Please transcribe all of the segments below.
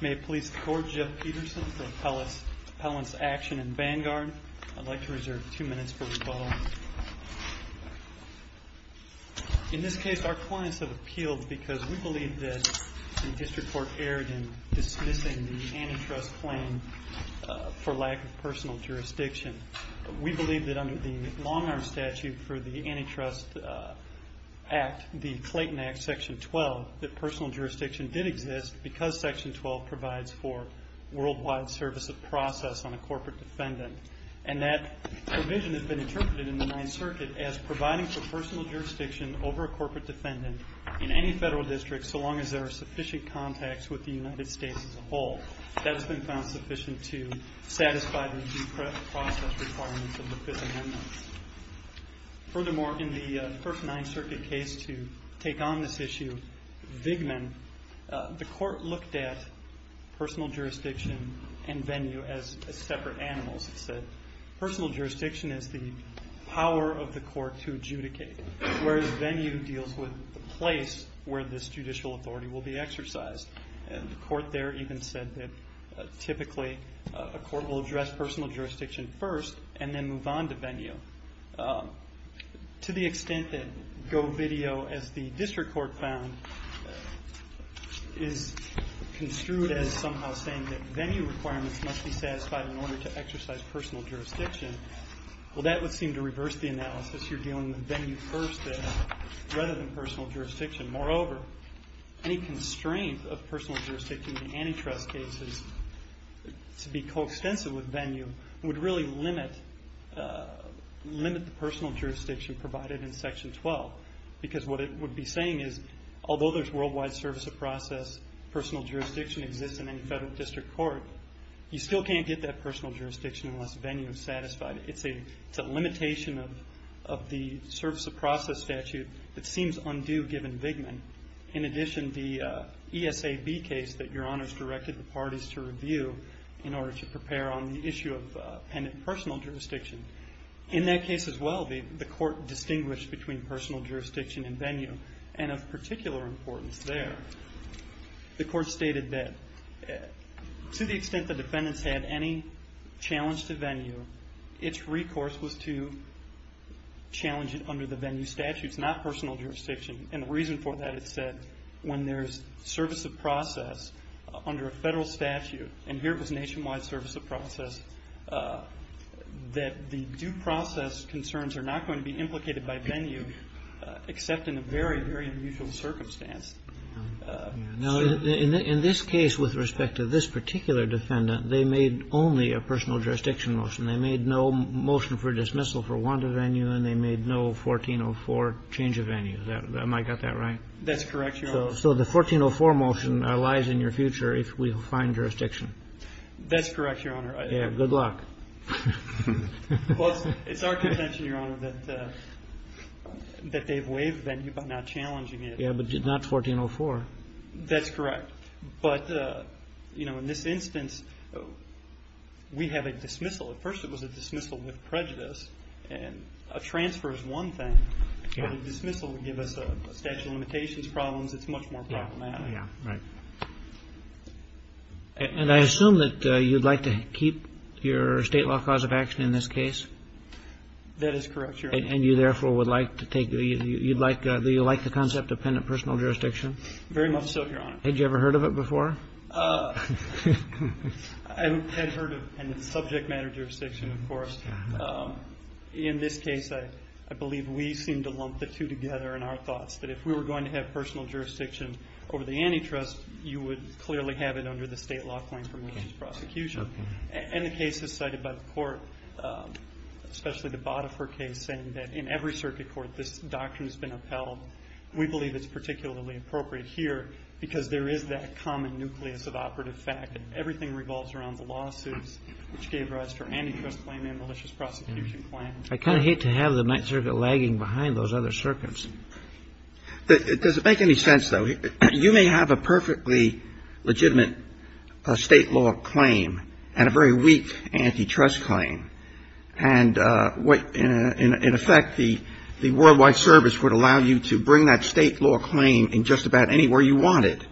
May it please the Court, Jeff Peterson from Appellants Action and Vanguard. I'd like to reserve two minutes for rebuttal. In this case, our clients have appealed because we believe that the District Court erred in dismissing the antitrust claim for lack of personal jurisdiction. We believe that under the Long Arm Statute for the Antitrust Act, the Clayton Act, Section 12, that personal jurisdiction did exist because Section 12 provides for worldwide service of process on a corporate defendant. And that provision has been interpreted in the Ninth Circuit as providing for personal jurisdiction over a corporate defendant in any federal district so long as there are sufficient contacts with the United States as a whole. That has been found sufficient to satisfy the due process requirements of the Fifth Amendment. Furthermore, in the first Ninth Circuit case to take on this issue, Vigman, the Court looked at personal jurisdiction and venue as separate animals. It said personal jurisdiction is the power of the Court to adjudicate, whereas venue deals with the place where this judicial authority will be exercised. The Court there even said that typically a court will address personal jurisdiction first and then move on to venue. To the extent that GoVideo, as the District Court found, is construed as somehow saying that venue requirements must be satisfied in order to exercise personal jurisdiction, well, that would seem to reverse the analysis. You're dealing with venue first there rather than personal jurisdiction. Moreover, any constraint of personal jurisdiction in antitrust cases to be coextensive with venue would really limit the personal jurisdiction provided in Section 12. Because what it would be saying is, although there's worldwide service of process, personal jurisdiction exists in any federal district court, you still can't get that personal jurisdiction unless venue is satisfied. It's a limitation of the service of process statute that seems undue given Vigman. In addition, the ESAB case that Your Honors directed the parties to review in order to prepare on the issue of appended personal jurisdiction, in that case as well, the Court distinguished between personal jurisdiction and venue and of particular importance there. The Court stated that to the extent the defendants had any challenge to venue, its recourse was to challenge it under the venue statutes, not personal jurisdiction. The reason for that, it said, when there's service of process under a federal statute, and here it was nationwide service of process, that the due process concerns are not going to be implicated by venue except in a very, very unusual circumstance. Now, in this case, with respect to this particular defendant, they made only a personal jurisdiction motion. They made no motion for dismissal for Wanda venue, and they made no 1404 change of venue. Am I got that right? That's correct, Your Honor. So the 1404 motion lies in your future if we find jurisdiction. That's correct, Your Honor. Yeah, good luck. Well, it's our contention, Your Honor, that they've waived venue by now challenging it. Yeah, but not 1404. That's correct. But, you know, in this instance, we have a dismissal. At first it was a dismissal with prejudice, and a transfer is one thing, but a dismissal would give us a statute of limitations problems. It's much more problematic. Yeah, right. And I assume that you'd like to keep your state law cause of action in this case? That is correct, Your Honor. And you, therefore, would like to take the you'd like the concept of penitent personal jurisdiction? Very much so, Your Honor. Had you ever heard of it before? I had heard of penitent subject matter jurisdiction, of course. In this case, I believe we seem to lump the two together in our thoughts, that if we were going to have personal jurisdiction over the antitrust, you would clearly have it under the state law claim for malicious prosecution. And the case is cited by the court, especially the Bottafer case, saying that in every circuit court this doctrine has been upheld. We believe it's particularly appropriate here because there is that common nucleus of operative fact, and everything revolves around the lawsuits which gave rise to our antitrust claim and malicious prosecution claim. I kind of hate to have the Ninth Circuit lagging behind those other circuits. Does it make any sense, though? You may have a perfectly legitimate state law claim and a very weak antitrust claim. And in effect, the Worldwide Service would allow you to bring that state law claim in just about anywhere you want it.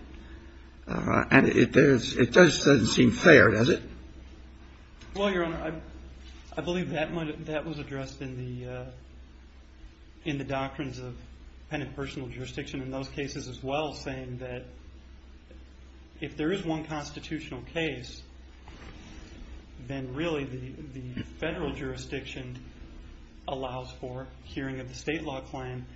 And it does seem fair, does it? Well, Your Honor, I believe that was addressed in the doctrines of penitent personal jurisdiction in those cases as well, saying that if there is one constitutional case, then really the federal jurisdiction allows for hearing of the state law claim.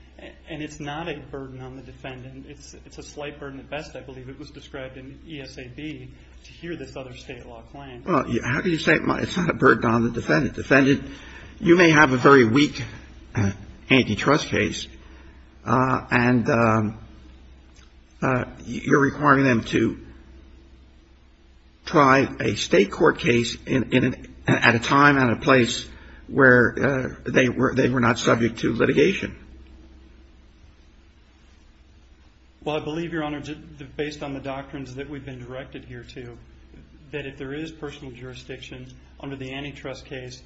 And it's not a burden on the defendant. And it's a slight burden at best, I believe. It was described in ESAB to hear this other state law claim. Well, how do you say it's not a burden on the defendant? Defendant, you may have a very weak antitrust case, and you're requiring them to try a state court case at a time, where they were not subject to litigation. Well, I believe, Your Honor, based on the doctrines that we've been directed here to, that if there is personal jurisdiction under the antitrust case,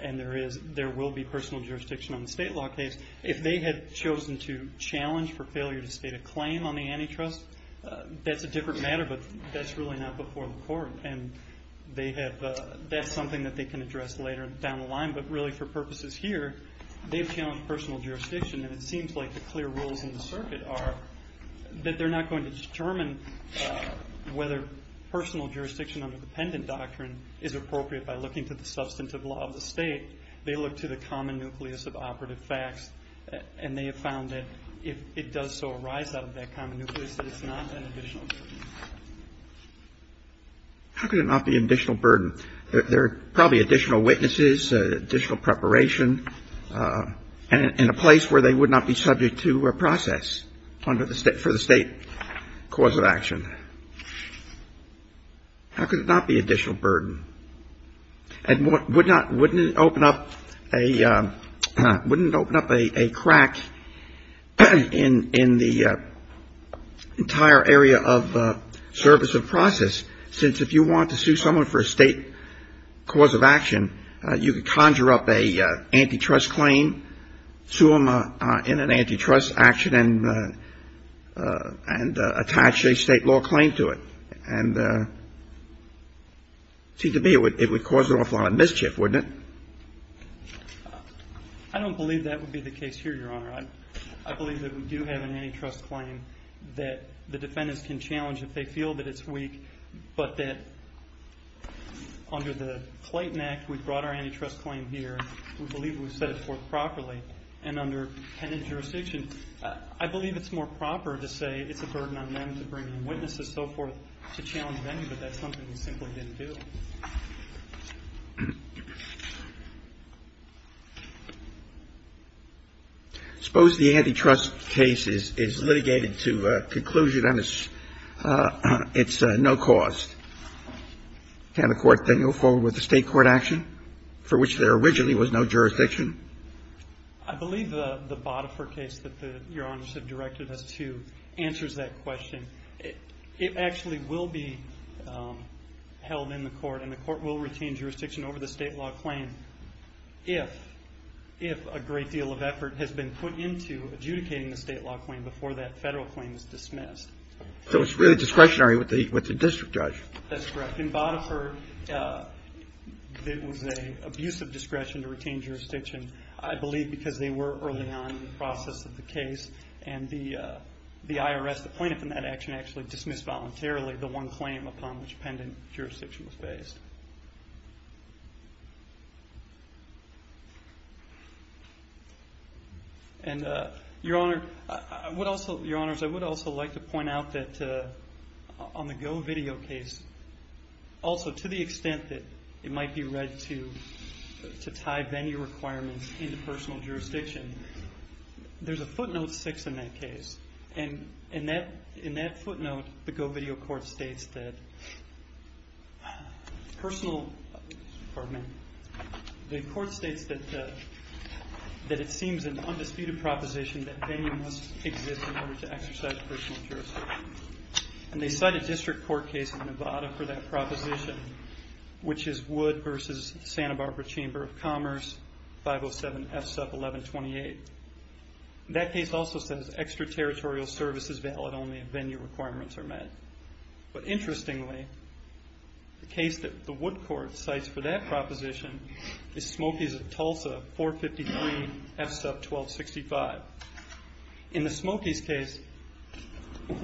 and there will be personal jurisdiction on the state law case, if they had chosen to challenge for failure to state a claim on the antitrust, that's a different matter, but that's really not before the court. And that's something that they can address later down the line. But really for purposes here, they've challenged personal jurisdiction, and it seems like the clear rules in the circuit are that they're not going to determine whether personal jurisdiction under the pendant doctrine is appropriate by looking to the substantive law of the state. They look to the common nucleus of operative facts, and they have found that if it does so arise out of that common nucleus, that it's not an additional burden. How could it not be an additional burden? There are probably additional witnesses, additional preparation, and a place where they would not be subject to a process under the State – for the State cause of action. How could it not be an additional burden? And would not – wouldn't it open up a – wouldn't it open up a crack in the entire area of service of process, since if you want to sue someone for a State cause of action, you could conjure up an antitrust claim, sue them in an antitrust action, and attach a State law claim to it. And it seems to me it would cause an awful lot of mischief, wouldn't it? I don't believe that would be the case here, Your Honor. I believe that we do have an antitrust claim that the defendants can challenge if they feel that it's weak, but that under the Clayton Act, we brought our antitrust claim here. We believe we've set it forth properly. And under pendant jurisdiction, I believe it's more proper to say it's a burden on them to bring in witnesses, so forth, to challenge them, but that's something we simply didn't do. Suppose the antitrust case is litigated to a conclusion and it's no cost. Can the Court then go forward with a State court action for which there originally was no jurisdiction? I believe the Botifer case that Your Honors have directed us to answers that question. It actually will be held in the Court, and the Court will retain jurisdiction over the State law claim if a great deal of effort has been put into adjudicating the State law claim before that Federal claim is dismissed. So it's really discretionary with the district judge. That's correct. But in Botifer, it was an abusive discretion to retain jurisdiction, I believe, because they were early on in the process of the case, and the IRS appointed from that action actually dismissed voluntarily the one claim upon which pendant jurisdiction was based. Your Honors, I would also like to point out that on the GoVideo case, also to the extent that it might be read to tie venue requirements into personal jurisdiction, there's a footnote 6 in that case. In that footnote, the GoVideo Court states that it seems an undisputed proposition that venue must exist in order to exercise personal jurisdiction. And they cite a district court case in Nevada for that proposition, which is Wood v. Santa Barbara Chamber of Commerce, 507 F-1128. That case also says extraterritorial service is valid only if venue requirements are met. But interestingly, the case that the Wood court cites for that proposition is Smokies v. Tulsa, 453 F-1265. In the Smokies case,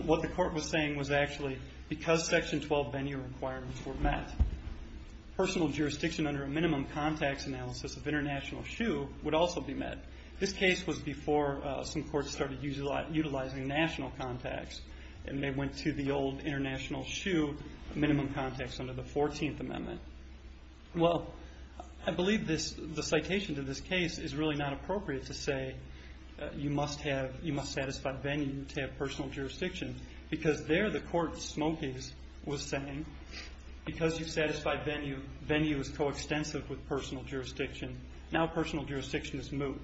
what the court was saying was actually because Section 12 venue requirements were met, personal jurisdiction under a minimum contacts analysis of international shoe would also be met. This case was before some courts started utilizing national contacts, and they went to the old international shoe minimum contacts under the 14th Amendment. Well, I believe the citation to this case is really not appropriate to say you must satisfy venue to have personal jurisdiction, because there the court, Smokies, was saying because you satisfy venue, venue is coextensive with personal jurisdiction. Now personal jurisdiction is moot.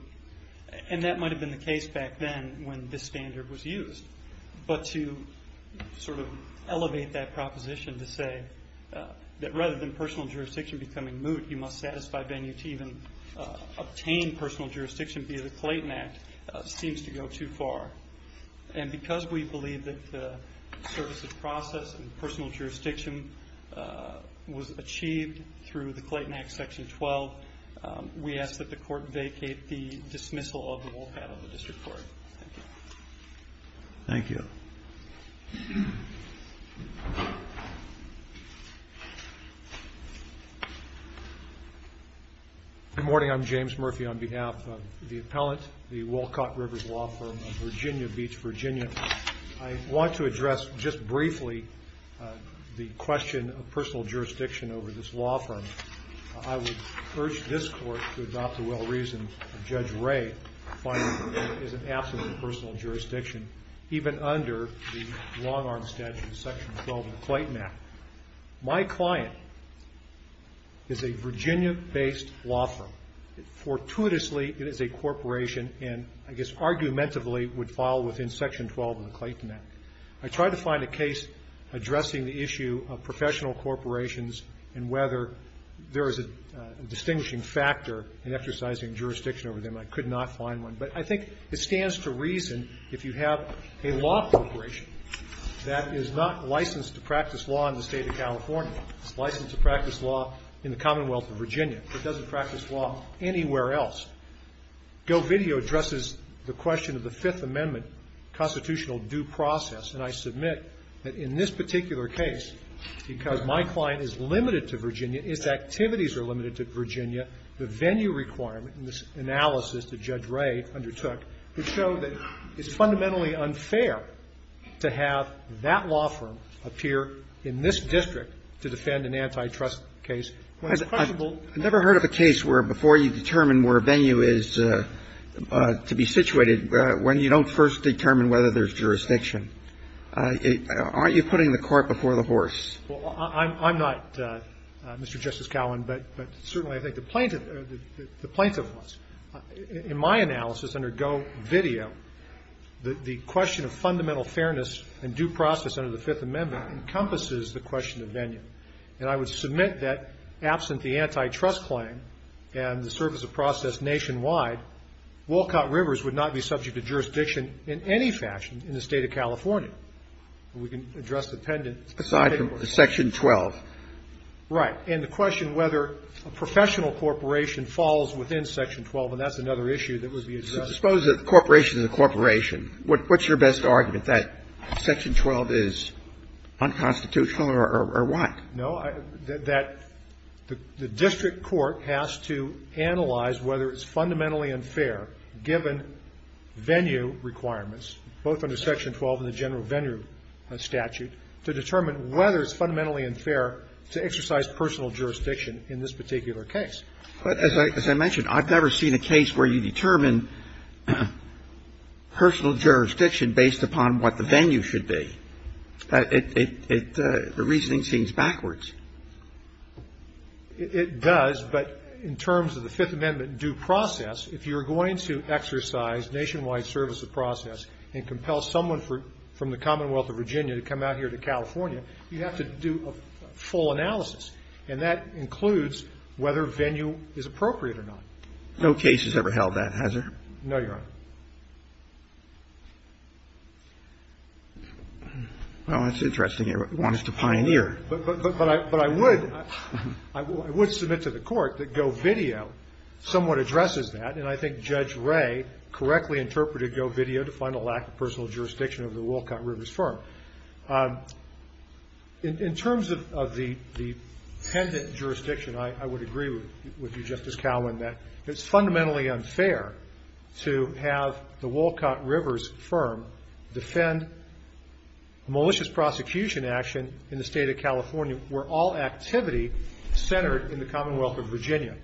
And that might have been the case back then when this standard was used. But to sort of elevate that proposition to say that rather than personal jurisdiction becoming moot, you must satisfy venue to even obtain personal jurisdiction via the Clayton Act seems to go too far. And because we believe that the service of process and personal jurisdiction was achieved through the Clayton Act Section 12, we ask that the court vacate the dismissal of the Wolcott of the district court. Thank you. Thank you. Good morning. I'm James Murphy on behalf of the appellant, the Wolcott Rivers Law Firm of Virginia Beach, Virginia. I want to address just briefly the question of personal jurisdiction over this law firm. I would urge this court to adopt the well-reasoned Judge Ray finding that there is an absolute personal jurisdiction, even under the long-arm statute, Section 12 of the Clayton Act. My client is a Virginia-based law firm. Fortuitously, it is a corporation and I guess argumentatively would fall within Section 12 of the Clayton Act. I tried to find a case addressing the issue of professional corporations and whether there is a distinguishing factor in exercising jurisdiction over them. I could not find one. But I think it stands to reason if you have a law corporation that is not licensed to practice law in the State of California, licensed to practice law in the Commonwealth of Virginia, but doesn't practice law anywhere else, GoVideo addresses the question of the Fifth Amendment constitutional due process. And I submit that in this particular case, because my client is limited to Virginia, its activities are limited to Virginia, the venue requirement in this analysis that Judge Ray undertook would show that it's fundamentally unfair to have that law firm appear in this district to defend an antitrust case when it's questionable. I've never heard of a case where before you determine where a venue is to be situated, when you don't first determine whether there's jurisdiction, aren't you putting the cart before the horse? Well, I'm not, Mr. Justice Cowan, but certainly I think the plaintiff or the plaintiff was. In my analysis under GoVideo, the question of fundamental fairness and due process under the Fifth Amendment encompasses the question of venue. And I would submit that absent the antitrust claim and the surface of process nationwide, Walcott Rivers would not be subject to jurisdiction in any fashion in the State of California. We can address the pendant. Aside from Section 12. Right. And the question whether a professional corporation falls within Section 12, and that's another issue that would be addressed. Suppose a corporation is a corporation. What's your best argument, that Section 12 is unconstitutional or what? No, that the district court has to analyze whether it's fundamentally unfair, given venue requirements, both under Section 12 and the general venue statute, to determine whether it's fundamentally unfair to exercise personal jurisdiction in this particular case. But as I mentioned, I've never seen a case where you determine personal jurisdiction based upon what the venue should be. The reasoning seems backwards. It does. But in terms of the Fifth Amendment due process, if you're going to exercise nationwide surface of process and compel someone from the Commonwealth of Virginia to come out here to California, you have to do a full analysis. And that includes whether venue is appropriate or not. No case has ever held that, has there? No, Your Honor. Well, that's interesting. You want us to pioneer. But I would submit to the court that GoVideo somewhat addresses that, and I think Judge Ray correctly interpreted GoVideo to find a lack of personal jurisdiction over the Wolcott Rivers firm. In terms of the pendant jurisdiction, I would agree with you, Justice Calhoun, that it's fundamentally unfair to have the Wolcott Rivers firm defend malicious prosecution action in the State of California, where all activity centered in the Commonwealth of Virginia.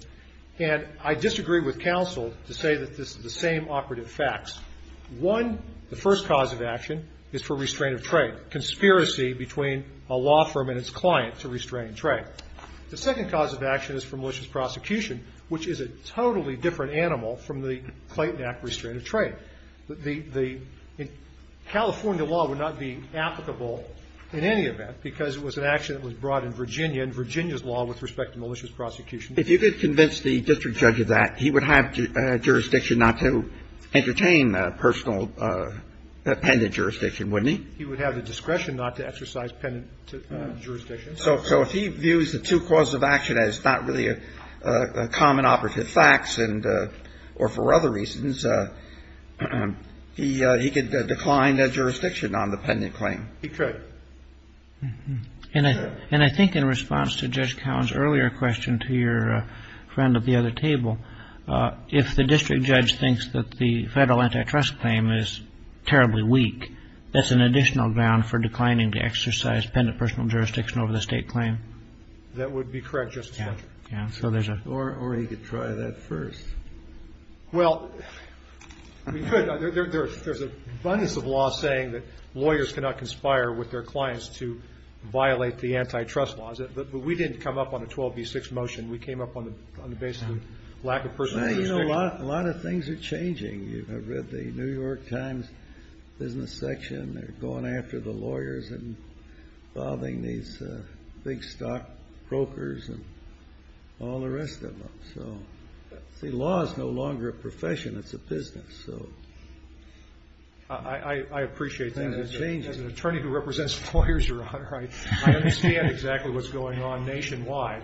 And I disagree with counsel to say that this is the same operative facts. One, the first cause of action is for restraint of trade, conspiracy between a law firm and its client to restrain trade. The second cause of action is for malicious prosecution, which is a totally different animal from the Clayton Act restraint of trade. The California law would not be applicable in any event because it was an action that was brought in Virginia and Virginia's law with respect to malicious prosecution. If you could convince the district judge of that, he would have jurisdiction not to entertain personal pendant jurisdiction, wouldn't he? He would have the discretion not to exercise pendant jurisdiction. So if he views the two causes of action as not really common operative facts, or for other reasons, he could decline jurisdiction on the pendant claim. He could. And I think in response to Judge Cowen's earlier question to your friend at the other table, if the district judge thinks that the Federal antitrust claim is terribly weak, that's an additional ground for declining to exercise pendant personal jurisdiction over the State claim. That would be correct, Justice Roberts. Or he could try that first. Well, we could. There's an abundance of law saying that lawyers cannot conspire with their clients to violate the antitrust laws. But we didn't come up on a 12B6 motion. We came up on the basis of lack of personal jurisdiction. A lot of things are changing. You have read the New York Times business section. They're going after the lawyers and involving these big stock brokers and all the rest of them. So, see, law is no longer a profession. It's a business. I appreciate that. As an attorney who represents lawyers, Your Honor, I understand exactly what's going on nationwide.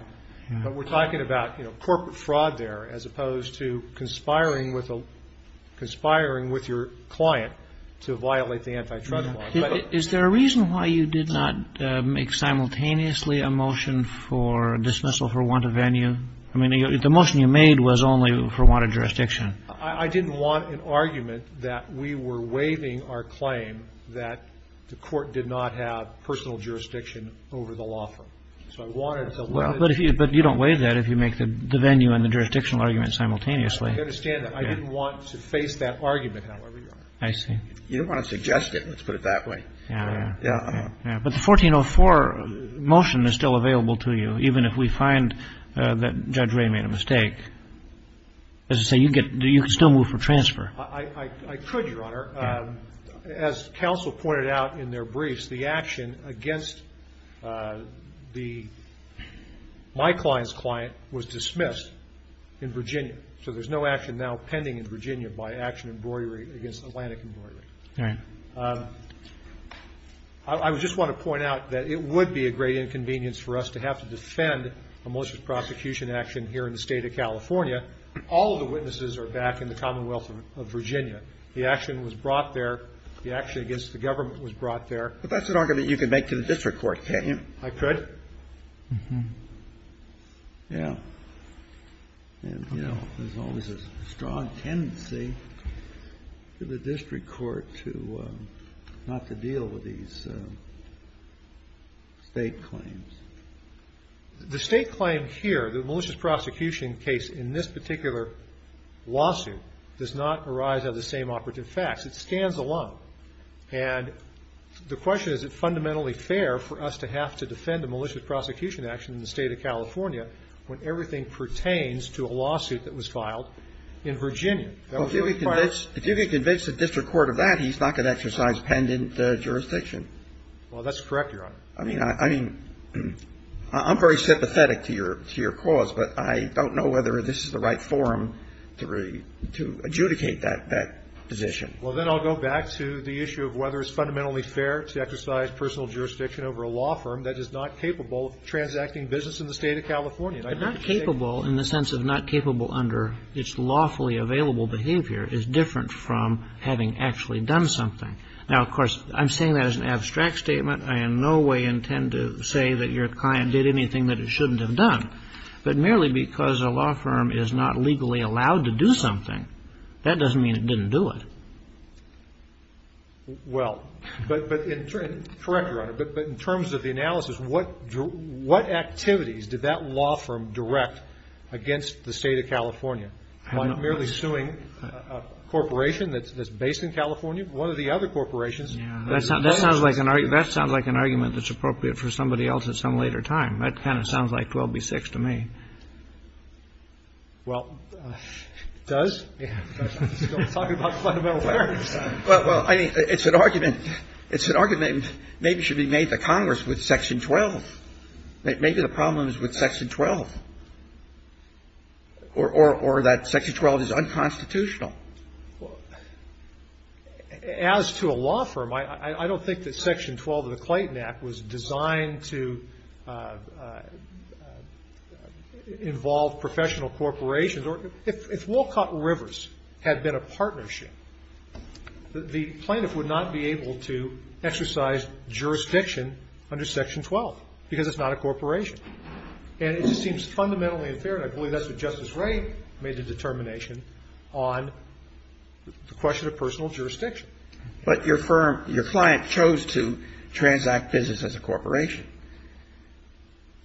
But we're talking about corporate fraud there as opposed to conspiring with your client to violate the antitrust laws. Is there a reason why you did not make simultaneously a motion for dismissal for want of venue? I mean, the motion you made was only for want of jurisdiction. I didn't want an argument that we were waiving our claim that the court did not have personal jurisdiction over the law firm. So I wanted to let it be. Well, but you don't waive that if you make the venue and the jurisdictional argument simultaneously. I understand that. I didn't want to face that argument, however, Your Honor. I see. You don't want to suggest it, let's put it that way. Yeah. Yeah. But the 1404 motion is still available to you, even if we find that Judge Ray made a mistake. As I say, you can still move for transfer. I could, Your Honor. As counsel pointed out in their briefs, the action against my client's client was dismissed in Virginia. So there's no action now pending in Virginia by action in broidery against Atlantic Embroidery. All right. I just want to point out that it would be a great inconvenience for us to have to defend a malicious prosecution action here in the state of California. All of the witnesses are back in the Commonwealth of Virginia. The action was brought there. The action against the government was brought there. But that's an argument you can make to the district court, can't you? I could. Yeah. And, you know, there's always a strong tendency to the district court to not to deal with these state claims. The state claim here, the malicious prosecution case in this particular lawsuit, does not arise out of the same operative facts. It stands alone. And the question is, is it fundamentally fair for us to have to defend a malicious prosecution action in the state of California when everything pertains to a lawsuit that was filed in Virginia? If you could convince the district court of that, he's not going to exercise pendant jurisdiction. Well, that's correct, Your Honor. I mean, I'm very sympathetic to your cause, but I don't know whether this is the right forum to adjudicate that position. Well, then I'll go back to the issue of whether it's fundamentally fair to exercise personal jurisdiction over a law firm that is not capable of transacting business in the state of California. Not capable in the sense of not capable under its lawfully available behavior is different from having actually done something. Now, of course, I'm saying that as an abstract statement. I in no way intend to say that your client did anything that it shouldn't have done. But merely because a law firm is not legally allowed to do something, that doesn't mean it didn't do it. Well, but in terms of the analysis, what activities did that law firm direct against the state of California? By merely suing a corporation that's based in California, one of the other corporations? Yeah. That sounds like an argument that's appropriate for somebody else at some later time. That kind of sounds like 12b-6 to me. Well, it does. But let's talk about fundamental fairness. Well, I mean, it's an argument. It's an argument that maybe should be made to Congress with Section 12. Maybe the problem is with Section 12 or that Section 12 is unconstitutional. As to a law firm, I don't think that Section 12 of the Clayton Act was designed to involve professional corporations. If Wolcott Rivers had been a partnership, the plaintiff would not be able to exercise jurisdiction under Section 12 because it's not a corporation. And it seems fundamentally unfair, and I believe that's what Justice Wray made the determination on, the question of personal jurisdiction. But your firm, your client chose to transact business as a corporation.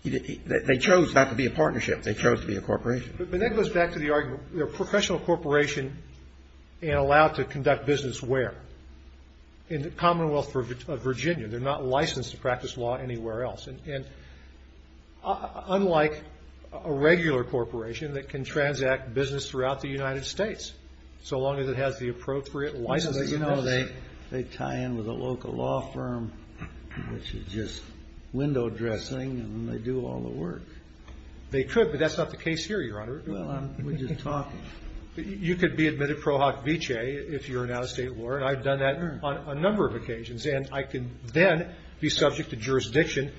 They chose not to be a partnership. They chose to be a corporation. But that goes back to the argument. A professional corporation is allowed to conduct business where? In the Commonwealth of Virginia. They're not licensed to practice law anywhere else. And unlike a regular corporation that can transact business throughout the United States, so long as it has the appropriate licensing. You know, they tie in with a local law firm, which is just window dressing, and they do all the work. They could, but that's not the case here, Your Honor. Well, we're just talking. You could be admitted pro hoc vicee if you're in out-of-state law, and I've done that on a number of occasions. And I can then be subject to jurisdiction,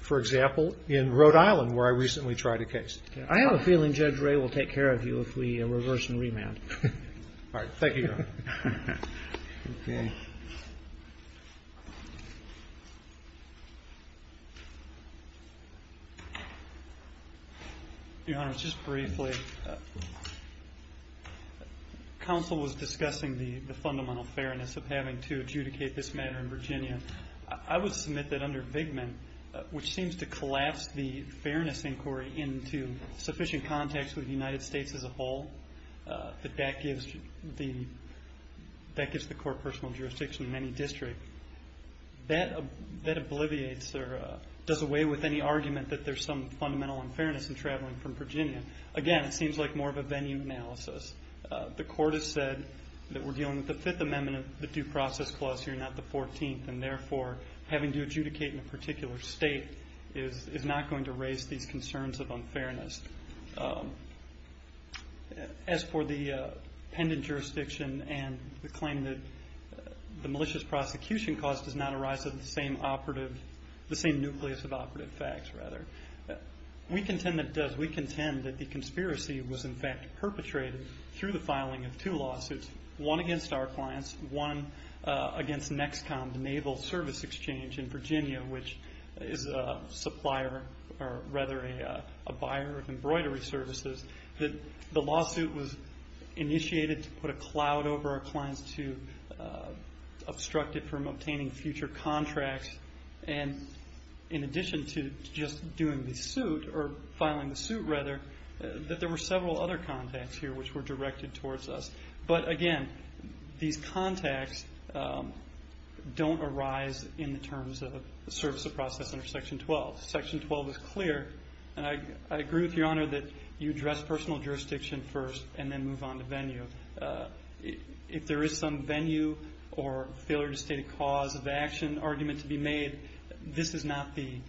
for example, in Rhode Island where I recently tried a case. I have a feeling Judge Wray will take care of you if we reverse and remand. All right. Thank you, Your Honor. Okay. Your Honor, just briefly. Counsel was discussing the fundamental fairness of having to adjudicate this matter in Virginia. I would submit that under Vigman, which seems to collapse the fairness inquiry into sufficient context with the United States as a whole, that that gives the court personal jurisdiction in any district. That obliviates or does away with any argument that there's some fundamental unfairness in traveling from Virginia. Again, it seems like more of a venue analysis. The court has said that we're dealing with the Fifth Amendment of the Due Process Clause here, not the 14th, and therefore having to adjudicate in a particular state is not going to raise these concerns of unfairness. As for the pendant jurisdiction and the claim that the malicious prosecution cause does not arise of the same operative, the same nucleus of operative facts, rather, we contend that the conspiracy was, in fact, perpetrated through the filing of two lawsuits, one against our clients, one against NEXCOM, the Naval Service Exchange in Virginia, which is a supplier or rather a buyer of embroidery services. The lawsuit was initiated to put a cloud over our clients to obstruct it from obtaining future contracts. In addition to just doing the suit or filing the suit, rather, that there were several other contacts here which were directed towards us. But, again, these contacts don't arise in the terms of the service of process under Section 12. Section 12 is clear, and I agree with Your Honor that you address personal jurisdiction first and then move on to venue. If there is some venue or failure to state a cause of action argument to be made, this is not the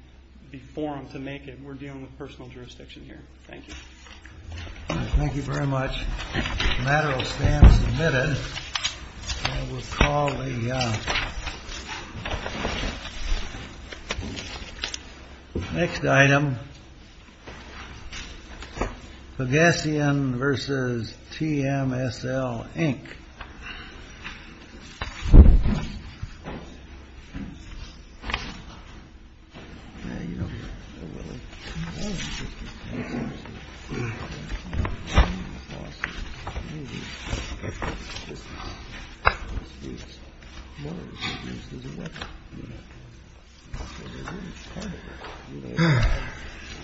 forum to make it. We're dealing with personal jurisdiction here. Thank you. Thank you very much. The matter will stand submitted. We'll call the next item. Pagasian versus TMSL, Inc.